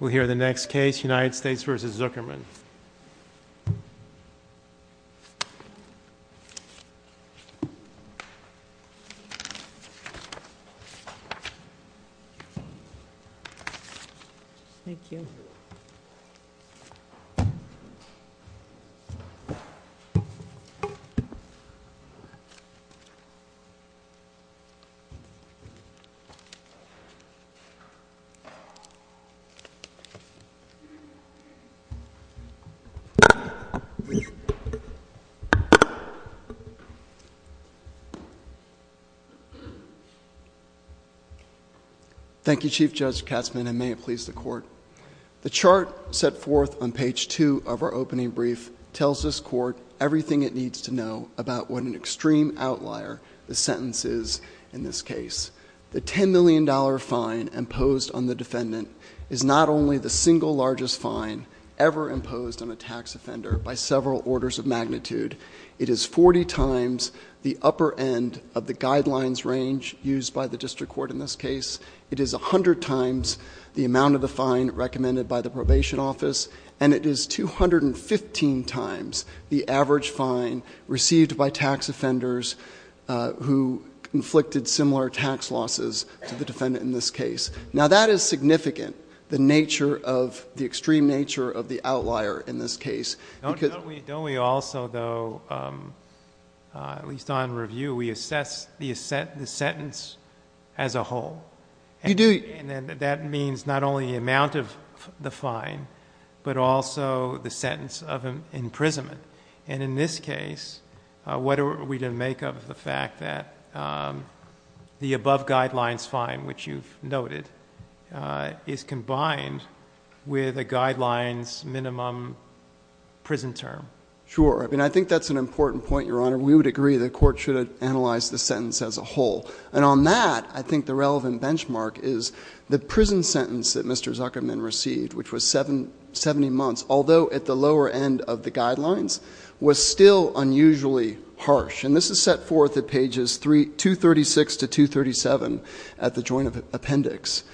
We'll hear the next case, United States v. Zuckerman. Thank you, Chief Judge Katzmann, and may it please the Court. The chart set forth on page 2 of our opening brief tells this Court everything it needs to know about what an extreme outlier the sentence is in this case. The $10 million fine imposed on the defendant is not only the single largest fine ever imposed on a tax offender by several orders of magnitude. It is 40 times the upper end of the guidelines range used by the District Court in this case. It is 100 times the amount of the fine recommended by the Probation Office, and it is 215 times the average fine received by tax offenders who inflicted similar tax losses to the defendant in this case. Now, that is significant, the nature of, the extreme nature of the outlier in this case because... Don't we also, though, at least on review, we assess the sentence as a whole? You do. And then that means not only the amount of the fine, but also the sentence of imprisonment. And in this case, what are we to make of the fact that the above guidelines fine, which you've noted, is combined with a guidelines minimum prison term? Sure. I mean, I think that's an important point, Your Honor. We would agree the Court should analyze the sentence as a whole. And on that, I think the relevant benchmark is the prison sentence that Mr. Zuckerman received, which was 70 months, although at the lower end of the guidelines, was still unusually harsh. And this is set forth at pages 236 to 237 at the Joint Appendix.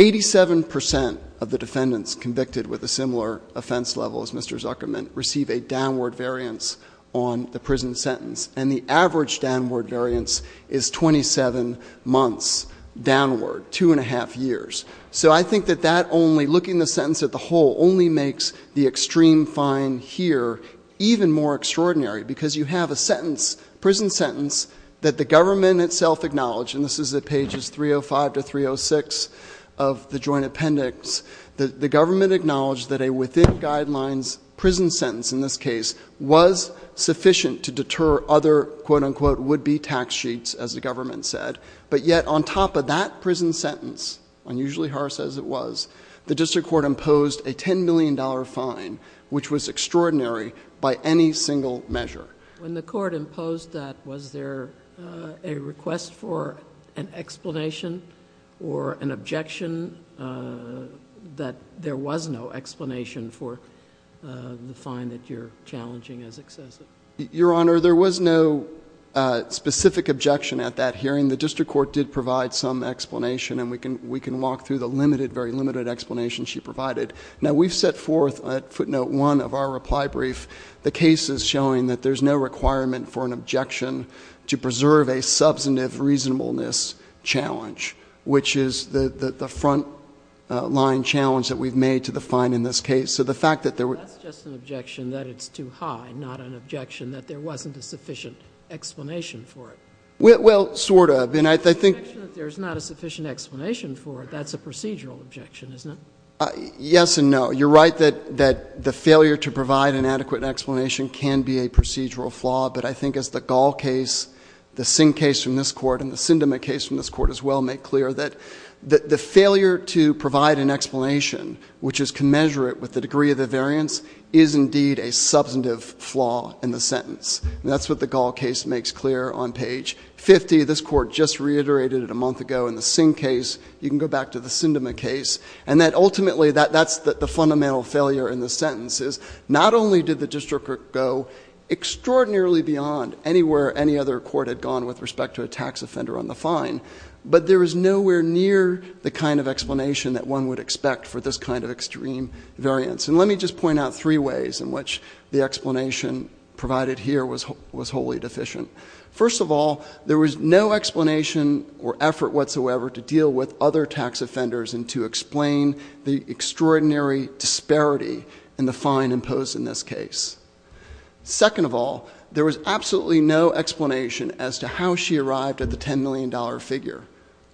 Eighty-seven percent of the defendants convicted with a similar offense level as Mr. Zuckerman receive a downward variance on the prison sentence. And the average downward variance is 27 months downward, two and a half years. So I think that that only, looking at the sentence as a whole, only makes the extreme fine here even more extraordinary, because you have a sentence, prison sentence, that the government itself acknowledged, and this is at pages 305 to 306 of the Joint Appendix, the government acknowledged that a within guidelines prison sentence in this case was sufficient to deter other quote-unquote would-be tax sheets, as the government said. But yet on top of that prison sentence, unusually harsh as it was, the District Court imposed a $10 million fine, which was extraordinary by any single measure. When the Court imposed that, was there a request for an explanation or an objection that there was no explanation for the fine that you're challenging as excessive? Your Honor, there was no specific objection at that hearing. The District Court did provide some explanation, and we can walk through the very limited explanation she provided. Now, we've set forth, at footnote one of our reply brief, the cases showing that there's no requirement for an objection to preserve a substantive reasonableness challenge, which is the front-line challenge that we've made to the fine in this case. So the fact that there were That's just an objection that it's too high, not an objection that there wasn't a sufficient explanation for it. Well, sort of. And I think Objection that there's not a sufficient explanation for it, that's a procedural objection, isn't it? Yes and no. You're right that the failure to provide an adequate explanation can be a procedural flaw, but I think as the Gall case, the Singh case from this Court, and the Sindema case from this Court as well, make clear that the failure to provide an explanation, which is commensurate with the degree of the variance, is indeed a substantive flaw in the sentence. That's what the Gall case makes clear on page 50. This Court just reiterated it a month ago in the Singh case. You can go back to the Sindema case, and that ultimately, that's the fundamental failure in the sentence, is not only did the District Court go extraordinarily beyond anywhere any other court had gone with respect to a tax offender on the fine, but there is nowhere near the kind of explanation that one would expect for this kind of extreme variance. And let me just point out three ways in which the explanation provided here was wholly deficient. First of all, there was no explanation or effort whatsoever to deal with other tax offenders and to explain the extraordinary disparity in the fine imposed in this case. Second of all, there was absolutely no explanation as to how she arrived at the $10 million figure.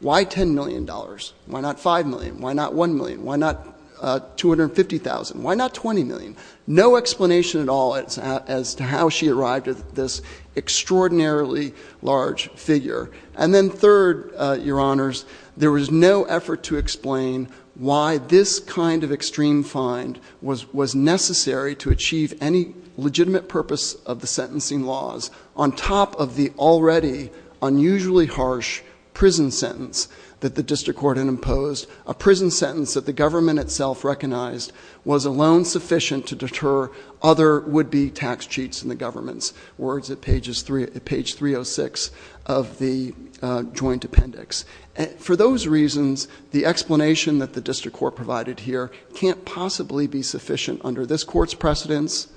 Why $10 million? Why not $5 million? Why not $1 million? Why not $250,000? Why not $20 million? No explanation at all as to how she arrived at this extraordinarily large figure. And then third, Your Honors, there was no effort to explain why this kind of extreme fine was necessary to achieve any legitimate purpose of the sentencing laws on top of the already unusually harsh prison sentence that the District Court had imposed, a prison sentence that the government itself recognized was alone sufficient to deter other would-be tax cheats in the government's words at page 306 of the joint appendix. For those reasons, the explanation that the District Court provided here can't possibly be sufficient under this Court's precedence,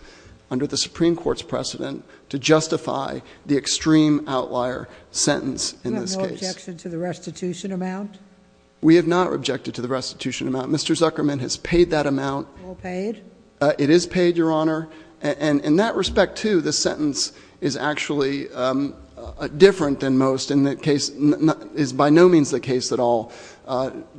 under the Supreme Court's precedent, to justify the extreme outlier sentence in this case. We have no objection to the restitution amount? We have not objected to the restitution amount. Mr. Zuckerman has paid that amount. All paid? It is paid, Your Honor. And in that respect, too, the sentence is actually different than most. In that case, it is by no means the case that all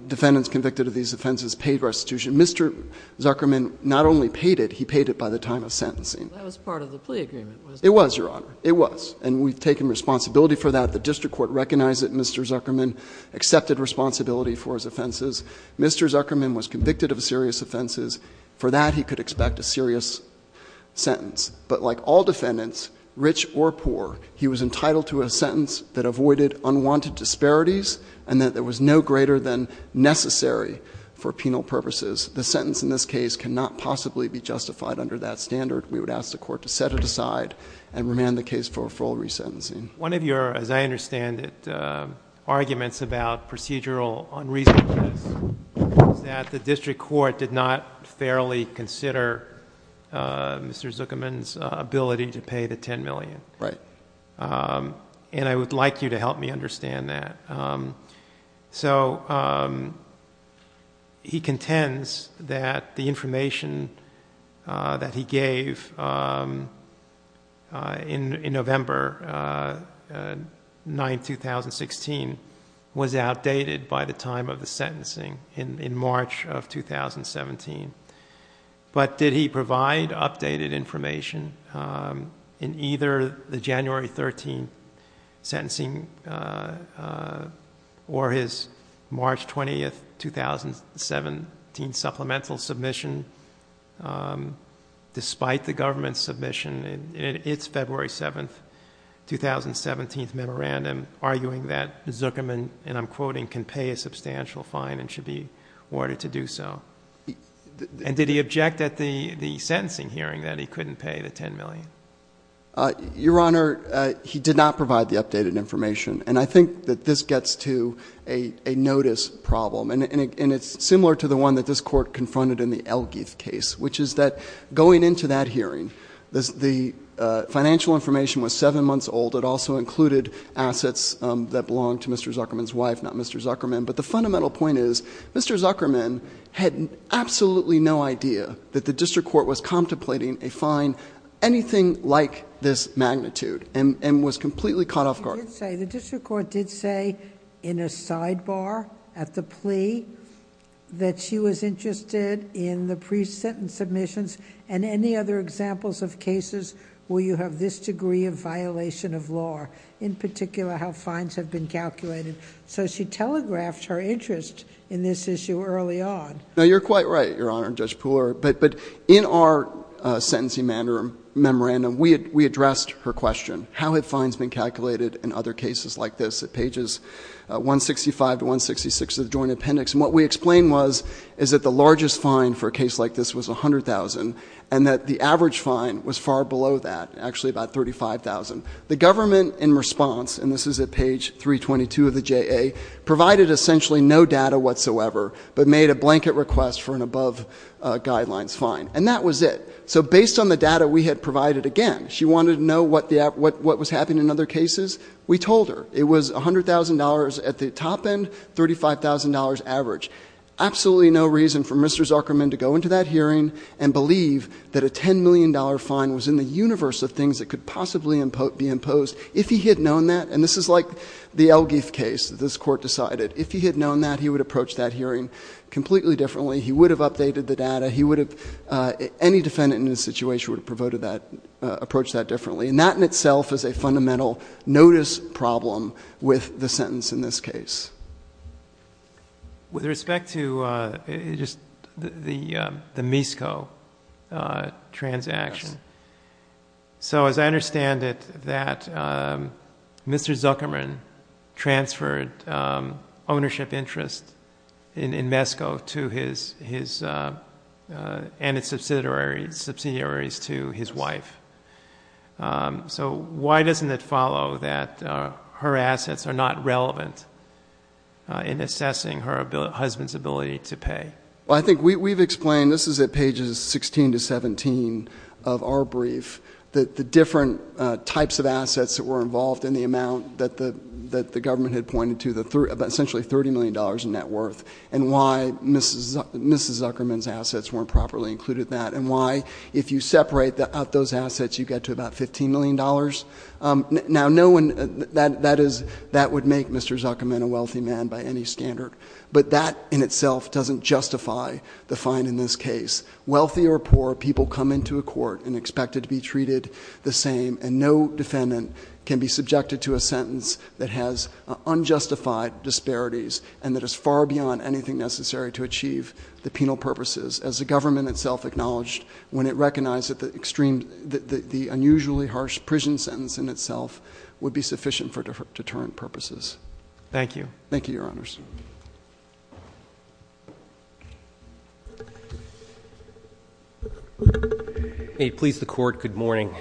defendants convicted of these offenses paid restitution. Mr. Zuckerman not only paid it, he paid it by the time of sentencing. That was part of the plea agreement, wasn't it? It was, Your Honor. It was. And we've taken responsibility for that. The District Court recognized that Mr. Zuckerman accepted responsibility for his offenses. Mr. Zuckerman was convicted of serious offenses. For that, he could expect a serious sentence. But like all defendants, rich or poor, he was entitled to a sentence that avoided unwanted disparities and that there was no greater than necessary for penal purposes. The sentence in this case cannot possibly be justified under that standard. We would ask the court to set it aside and remand the case for a full resentencing. One of your, as I understand it, arguments about procedural unreasonableness is that the District Court did not fairly consider Mr. Zuckerman's ability to pay the $10 million. Right. And I would like you to help me understand that. So he contends that the information that he gave in November 9, 2016 was outdated by the time of the sentencing in March of 2017. But did he provide updated information in either the January 13th sentencing or his March 20th, 2017 supplemental submission despite the government's submission in its February 7th, 2017 memorandum, arguing that Zuckerman, and I'm quoting, can pay a substantial fine and should be awarded to do so? And did he object at the sentencing hearing that he couldn't pay the $10 million? Your Honor, he did not provide the updated information. And I think that this gets to a notice problem. And it's similar to the one that this court confronted in the Elgeith case, which is that going into that hearing, the financial information was seven months old. It also included assets that belonged to Mr. Zuckerman's wife, not Mr. Zuckerman. But the fundamental point is, Mr. Zuckerman had absolutely no idea that the District Court was contemplating a fine anything like this magnitude and was completely caught off guard. The District Court did say in a sidebar at the plea that she was interested in the pre-sentence submissions and any other examples of cases where you have this degree of violation of law. In particular, how fines have been calculated. So she telegraphed her interest in this issue early on. Now you're quite right, Your Honor and Judge Pooler, but in our sentencing memorandum, we addressed her question, how have fines been calculated in other cases like this? At pages 165 to 166 of the joint appendix. And what we explained was, is that the largest fine for a case like this was 100,000, and that the average fine was far below that, actually about 35,000. The government in response, and this is at page 322 of the JA, provided essentially no data whatsoever, but made a blanket request for an above guidelines fine, and that was it. So based on the data we had provided again, she wanted to know what was happening in other cases. We told her, it was $100,000 at the top end, $35,000 average. Absolutely no reason for Mr. Zuckerman to go into that hearing and believe that a $10 million fine was in the universe of things that could possibly be imposed. If he had known that, and this is like the Elgif case that this court decided. If he had known that, he would approach that hearing completely differently. He would have updated the data. He would have, any defendant in this situation would have provoked that, approached that differently. And that in itself is a fundamental notice problem with the sentence in this case. With respect to just the MISCO transaction. So as I understand it, that Mr. Zuckerman transferred ownership interest in MISCO and its subsidiaries to his wife. So why doesn't it follow that her assets are not relevant in assessing her husband's ability to pay? Well, I think we've explained, this is at pages 16 to 17 of our brief, that the different types of assets that were involved in the amount that the government had pointed to, essentially $30 million in net worth, and why Mrs. Zuckerman's assets weren't properly included in that. And why, if you separate out those assets, you get to about $15 million. Now, that would make Mr. Zuckerman a wealthy man by any standard. But that in itself doesn't justify the fine in this case. Wealthy or poor, people come into a court and expected to be treated the same. And no defendant can be subjected to a sentence that has unjustified disparities, and that is far beyond anything necessary to achieve the penal purposes, as the government itself acknowledged. When it recognized that the unusually harsh prison sentence in itself would be sufficient for deterrent purposes. Thank you. Thank you, your honors. May it please the court, good morning.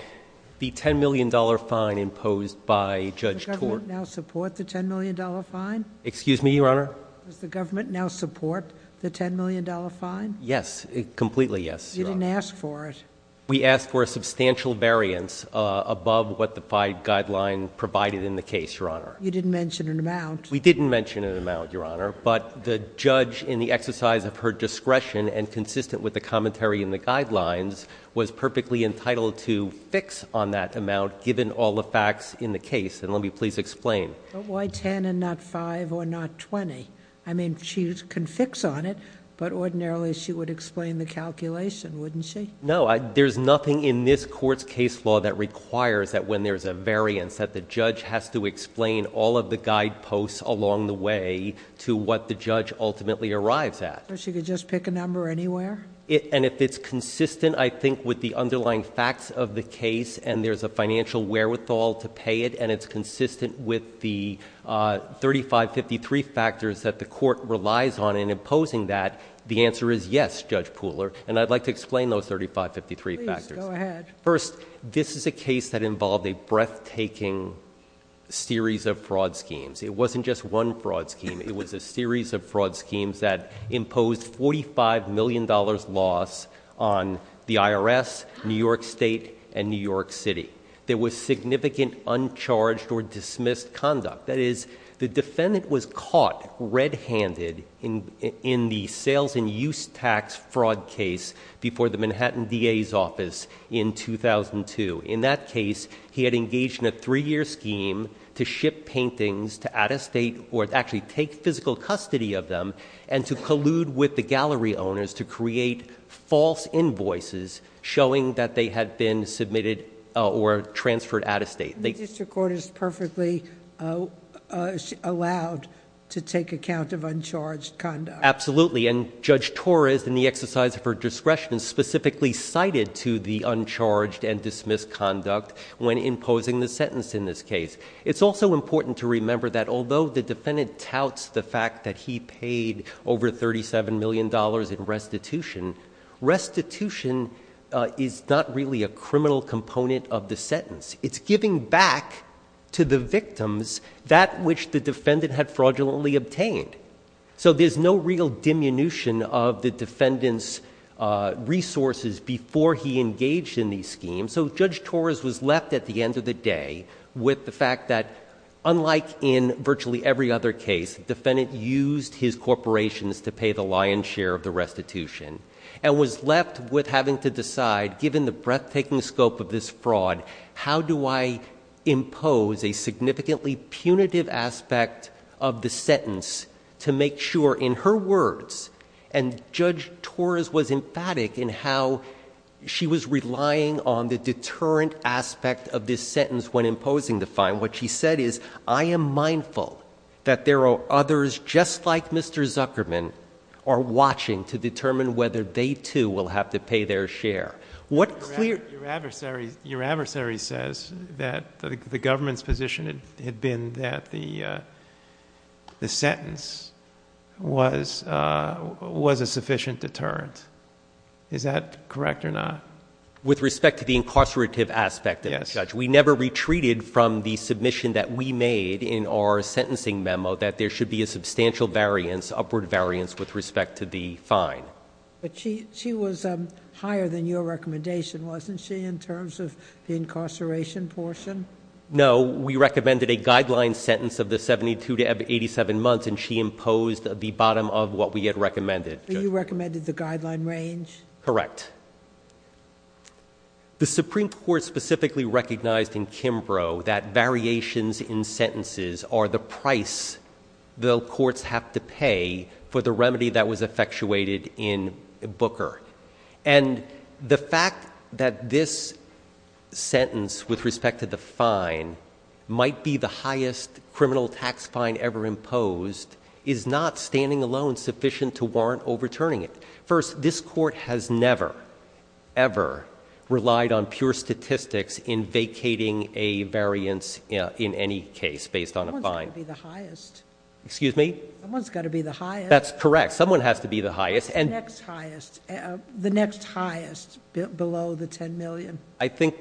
The $10 million fine imposed by Judge Thorpe. Does the government now support the $10 million fine? Excuse me, your honor? Does the government now support the $10 million fine? Yes, completely yes, your honor. You didn't ask for it. We asked for a substantial variance above what the five guideline provided in the case, your honor. You didn't mention an amount. We didn't mention an amount, your honor. But the judge in the exercise of her discretion and consistent with the commentary in the guidelines was perfectly entitled to fix on that amount given all the facts in the case, and let me please explain. But why ten and not five or not 20? I mean, she can fix on it, but ordinarily she would explain the calculation, wouldn't she? No, there's nothing in this court's case law that requires that when there's a variance, that the judge has to explain all of the guideposts along the way to what the judge ultimately arrives at. So she could just pick a number anywhere? And if it's consistent, I think, with the underlying facts of the case, and there's a financial wherewithal to pay it, and it's consistent with the 3553 factors that the court relies on in imposing that, the answer is yes, Judge Pooler, and I'd like to explain those 3553 factors. Please, go ahead. First, this is a case that involved a breathtaking series of fraud schemes. It wasn't just one fraud scheme, it was a series of fraud schemes that imposed $45 million loss on the IRS, New York State, and New York City. There was significant uncharged or dismissed conduct. That is, the defendant was caught red-handed in the sales and inventory of a gallery in 2002, in that case, he had engaged in a three-year scheme to ship paintings to out-of-state, or actually take physical custody of them, and to collude with the gallery owners to create false invoices showing that they had been submitted or transferred out-of-state. The district court is perfectly allowed to take account of uncharged conduct. Absolutely, and Judge Torres, in the exercise of her discretion, specifically cited to the uncharged and dismissed conduct when imposing the sentence in this case. It's also important to remember that although the defendant touts the fact that he paid over $37 million in restitution, restitution is not really a criminal component of the sentence. It's giving back to the victims that which the defendant had fraudulently obtained. So there's no real diminution of the defendant's resources before he engaged in these schemes. So Judge Torres was left, at the end of the day, with the fact that, unlike in virtually every other case, defendant used his corporations to pay the lion's share of the restitution. And was left with having to decide, given the breathtaking scope of this fraud, how do I impose a significantly punitive aspect of the sentence to make sure, in her words, and Judge Torres was emphatic in how she was relying on the deterrent aspect of this sentence when imposing the fine. What she said is, I am mindful that there are others just like Mr. Zuckerman are watching to determine whether they too will have to pay their share. What clear- Your adversary says that the government's position had been that the sentence was a sufficient deterrent. Is that correct or not? With respect to the incarcerative aspect of it, Judge, we never retreated from the submission that we made in our sentencing memo, that there should be a substantial variance, upward variance, with respect to the fine. But she was higher than your recommendation, wasn't she, in terms of the incarceration portion? No, we recommended a guideline sentence of the 72 to 87 months, and she imposed the bottom of what we had recommended. You recommended the guideline range? Correct. The Supreme Court specifically recognized in Kimbrough that variations in sentences are the price the courts have to pay for the remedy that was effectuated in Booker. And the fact that this sentence with respect to the fine might be the highest criminal tax fine ever imposed is not standing alone sufficient to warrant overturning it. First, this court has never, ever relied on pure statistics in vacating a variance in any case based on a fine. Someone's got to be the highest. Excuse me? Someone's got to be the highest. That's correct. Someone has to be the highest. The next highest. The next highest, below the $10 million. I think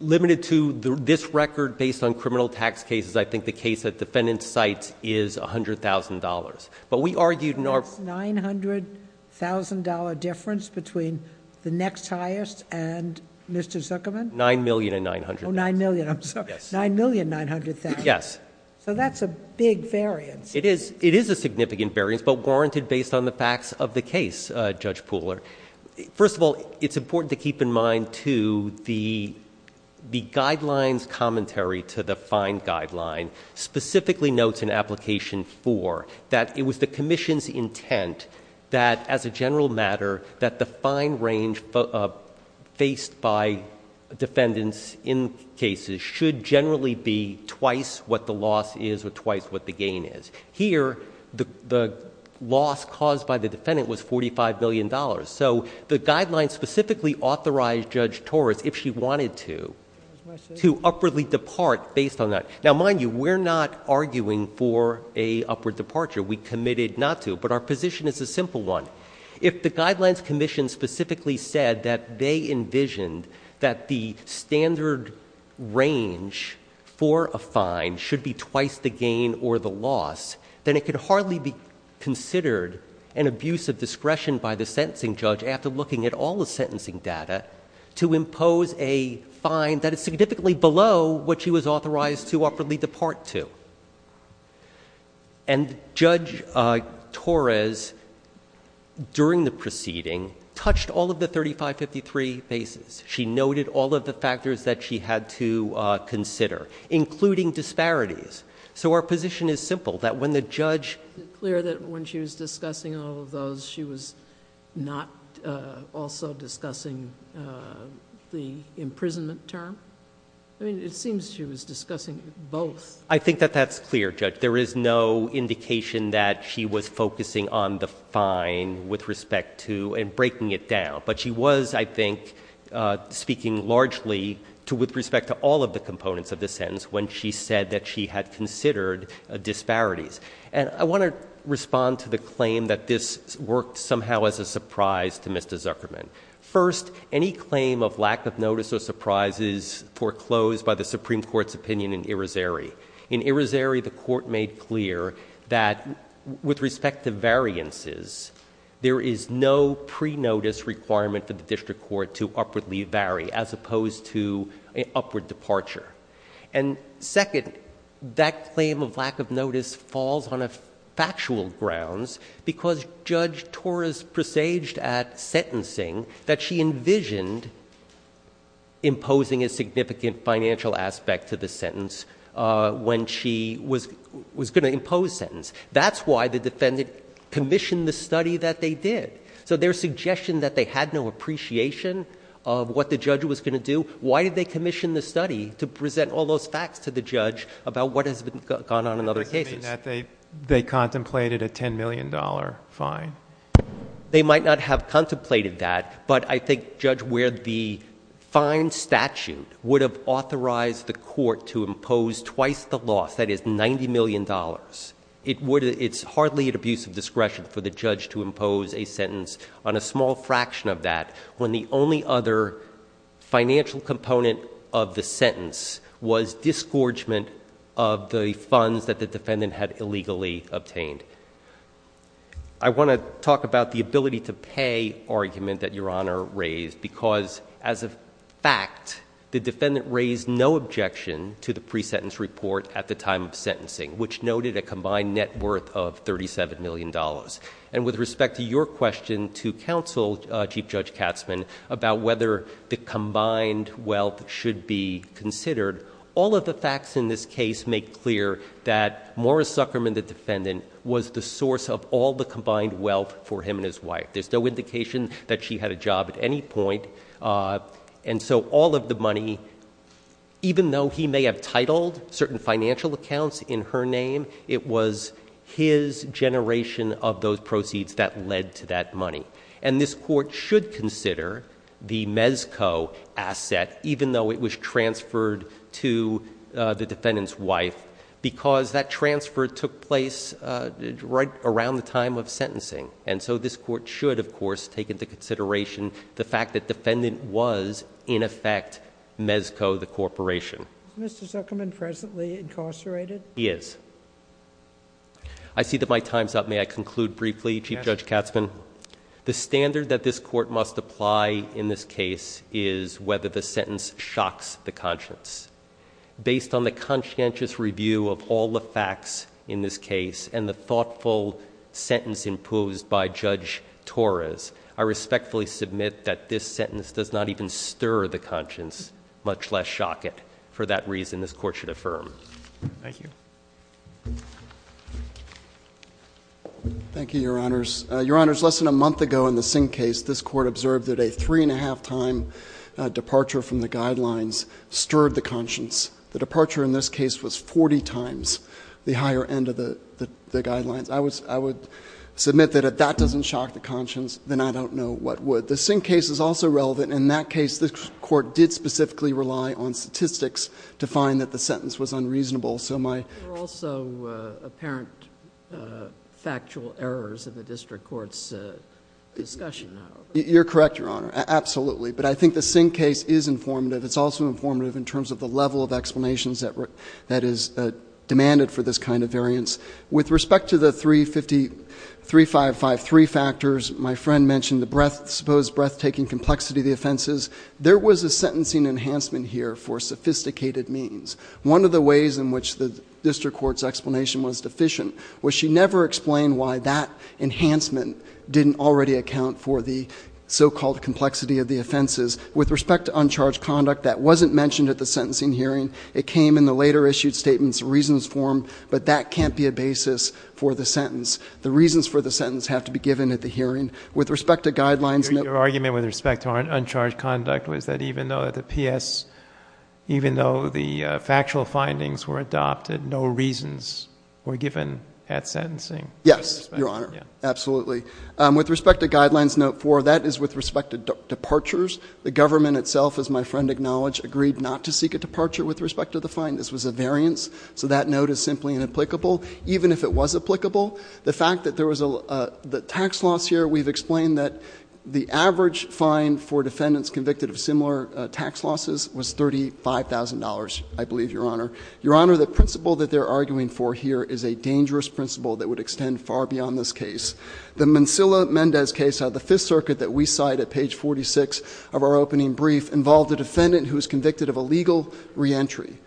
limited to this record based on criminal tax cases, I think the case that defendant cites is $100,000, but we argued in our- That's $900,000 difference between the next highest and Mr. Zuckerman? $9,900,000. $9,000,000, I'm sorry. $9,900,000. Yes. So that's a big variance. It is a significant variance, but warranted based on the facts of the case, Judge Pooler. First of all, it's important to keep in mind, too, the guidelines commentary to the fine guideline, specifically notes in application four, that it was the commission's intent that, as a general matter, that the fine range faced by defendants in cases should generally be twice what the loss is or twice what the gain is. Here, the loss caused by the defendant was $45 million. So the guidelines specifically authorized Judge Torres, if she wanted to, to upwardly depart based on that. Now mind you, we're not arguing for a upward departure. We committed not to, but our position is a simple one. If the guidelines commission specifically said that they envisioned that the standard range for a fine should be twice the gain or the loss, then it could hardly be considered an abuse of discretion by the sentencing judge after looking at all the sentencing data to impose a fine that is significantly below what she was authorized to upwardly depart to. And Judge Torres, during the proceeding, touched all of the 3553 bases. She noted all of the factors that she had to consider, including disparities. So our position is simple, that when the judge- Is it clear that when she was discussing all of those, she was not also discussing the imprisonment term? I mean, it seems she was discussing both. I think that that's clear, Judge. There is no indication that she was focusing on the fine with respect to and breaking it down. But she was, I think, speaking largely to with respect to all of the components of the sentence when she said that she had considered disparities. And I want to respond to the claim that this worked somehow as a surprise to Mr. Zuckerman. First, any claim of lack of notice or surprise is foreclosed by the Supreme Court's opinion in Irizarry. In Irizarry, the court made clear that with respect to variances, there is no pre-notice requirement for the district court to upwardly vary, as opposed to an upward departure. And second, that claim of lack of notice falls on a factual grounds because Judge Torres presaged at sentencing that she envisioned imposing a significant financial aspect to the sentence when she was going to impose sentence. That's why the defendant commissioned the study that they did. So their suggestion that they had no appreciation of what the judge was going to do, why did they commission the study to present all those facts to the judge about what has gone on in other cases? They contemplated a $10 million fine. They might not have contemplated that, but I think, Judge, where the fine statute would have authorized the court to impose twice the loss, that is $90 million. It's hardly an abuse of discretion for the judge to impose a sentence on a small fraction of that, when the only other financial component of the sentence was the disgorgement of the funds that the defendant had illegally obtained. I want to talk about the ability to pay argument that your honor raised, because as a fact, the defendant raised no objection to the pre-sentence report at the time of sentencing, which noted a combined net worth of $37 million. And with respect to your question to counsel, Chief Judge Katzman, about whether the combined wealth should be considered, all of the facts in this case make clear that Morris Zuckerman, the defendant, was the source of all the combined wealth for him and his wife. There's no indication that she had a job at any point. And so all of the money, even though he may have titled certain financial accounts in her name, it was his generation of those proceeds that led to that money. And this court should consider the Mezco asset, even though it was transferred to the defendant's wife, because that transfer took place right around the time of sentencing. And so this court should, of course, take into consideration the fact that defendant was, in effect, Mezco the corporation. Is Mr. Zuckerman presently incarcerated? He is. I see that my time's up. May I conclude briefly, Chief Judge Katzman? The standard that this court must apply in this case is whether the sentence shocks the conscience. Based on the conscientious review of all the facts in this case and the thoughtful sentence imposed by Judge Torres, I respectfully submit that this sentence does not even stir the conscience, much less shock it, for that reason this court should affirm. Thank you. Thank you, your honors. Your honors, less than a month ago in the Singh case, this court observed that a three and a half time departure from the guidelines stirred the conscience. The departure in this case was 40 times the higher end of the guidelines. I would submit that if that doesn't shock the conscience, then I don't know what would. The Singh case is also relevant. In that case, the court did specifically rely on statistics to find that the sentence was unreasonable. So my- There are also apparent factual errors in the district court's discussion. You're correct, your honor. Absolutely. But I think the Singh case is informative. It's also informative in terms of the level of explanations that is demanded for this kind of variance. With respect to the 3553 factors, my friend mentioned the supposed breathtaking complexity of the offenses. There was a sentencing enhancement here for sophisticated means. One of the ways in which the district court's explanation was deficient was she never explained why that enhancement didn't already account for the so-called complexity of the offenses. With respect to uncharged conduct, that wasn't mentioned at the sentencing hearing. It came in the later issued statement's reasons form, but that can't be a basis for the sentence. The reasons for the sentence have to be given at the hearing. With respect to guidelines- Your argument with respect to uncharged conduct was that even though the PS, even though the factual findings were adopted, no reasons were given at sentencing. Yes, your honor. Absolutely. With respect to guidelines note four, that is with respect to departures. The government itself, as my friend acknowledged, agreed not to seek a departure with respect to the fine. This was a variance, so that note is simply inapplicable, even if it was applicable. The fact that there was a tax loss here, we've explained that the average fine for defendants convicted of similar tax losses was $35,000, I believe, your honor. Your honor, the principle that they're arguing for here is a dangerous principle that would extend far beyond this case. The Mancilla-Mendez case of the Fifth Circuit that we cite at page 46 of our opening brief involved a defendant who was convicted of illegal reentry.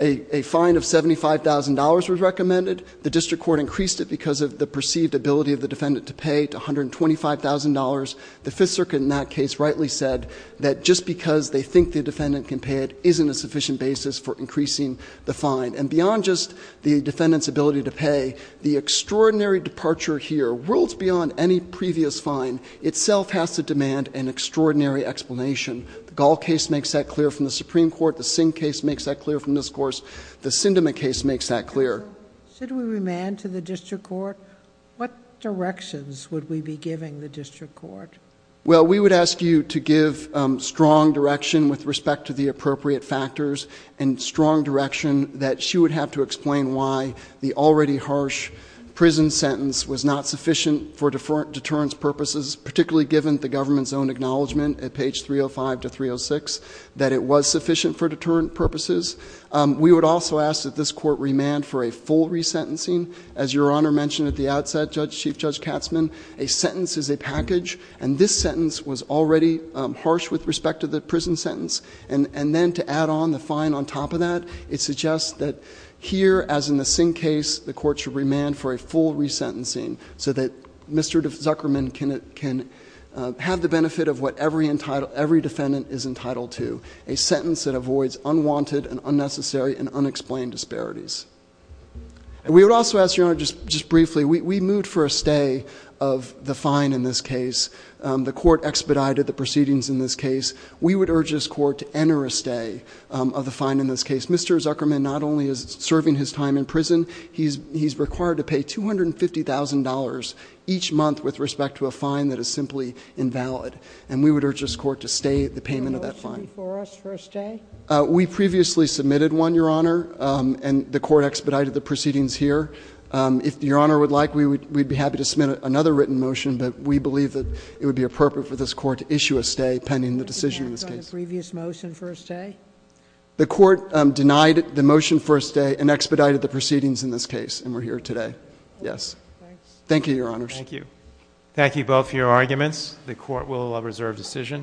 A fine of $75,000 was recommended. The district court increased it because of the perceived ability of the defendant to pay $125,000. The Fifth Circuit in that case rightly said that just because they think the defendant can pay it isn't a sufficient basis for increasing the fine. And beyond just the defendant's ability to pay, the extraordinary departure here, rules beyond any previous fine, itself has to demand an extraordinary explanation. The Gall case makes that clear from the Supreme Court. The Singh case makes that clear from this course. The Sindema case makes that clear. Should we remand to the district court? What directions would we be giving the district court? Well, we would ask you to give strong direction with respect to the appropriate factors and strong direction that she would have to explain why the already harsh prison sentence was not sufficient for deterrence purposes. Particularly given the government's own acknowledgement at page 305 to 306 that it was sufficient for deterrent purposes. We would also ask that this court remand for a full resentencing. As your honor mentioned at the outset, Chief Judge Katzman, a sentence is a package. And this sentence was already harsh with respect to the prison sentence. And then to add on the fine on top of that, it suggests that here, as in the Singh case, the court should remand for a full resentencing. So that Mr. Zuckerman can have the benefit of what every defendant is entitled to. A sentence that avoids unwanted and unnecessary and unexplained disparities. We would also ask, your honor, just briefly, we moved for a stay of the fine in this case. The court expedited the proceedings in this case. We would urge this court to enter a stay of the fine in this case. Mr. Zuckerman not only is serving his time in prison, he's required to pay $250,000 each month with respect to a fine that is simply invalid. And we would urge this court to stay the payment of that fine. For us for a stay? We previously submitted one, your honor, and the court expedited the proceedings here. If your honor would like, we'd be happy to submit another written motion. But we believe that it would be appropriate for this court to issue a stay pending the decision in this case. Previous motion for a stay? The court denied the motion for a stay and expedited the proceedings in this case, and we're here today. Yes. Thank you, your honors. Thank you. Thank you both for your arguments. The court will reserve decision.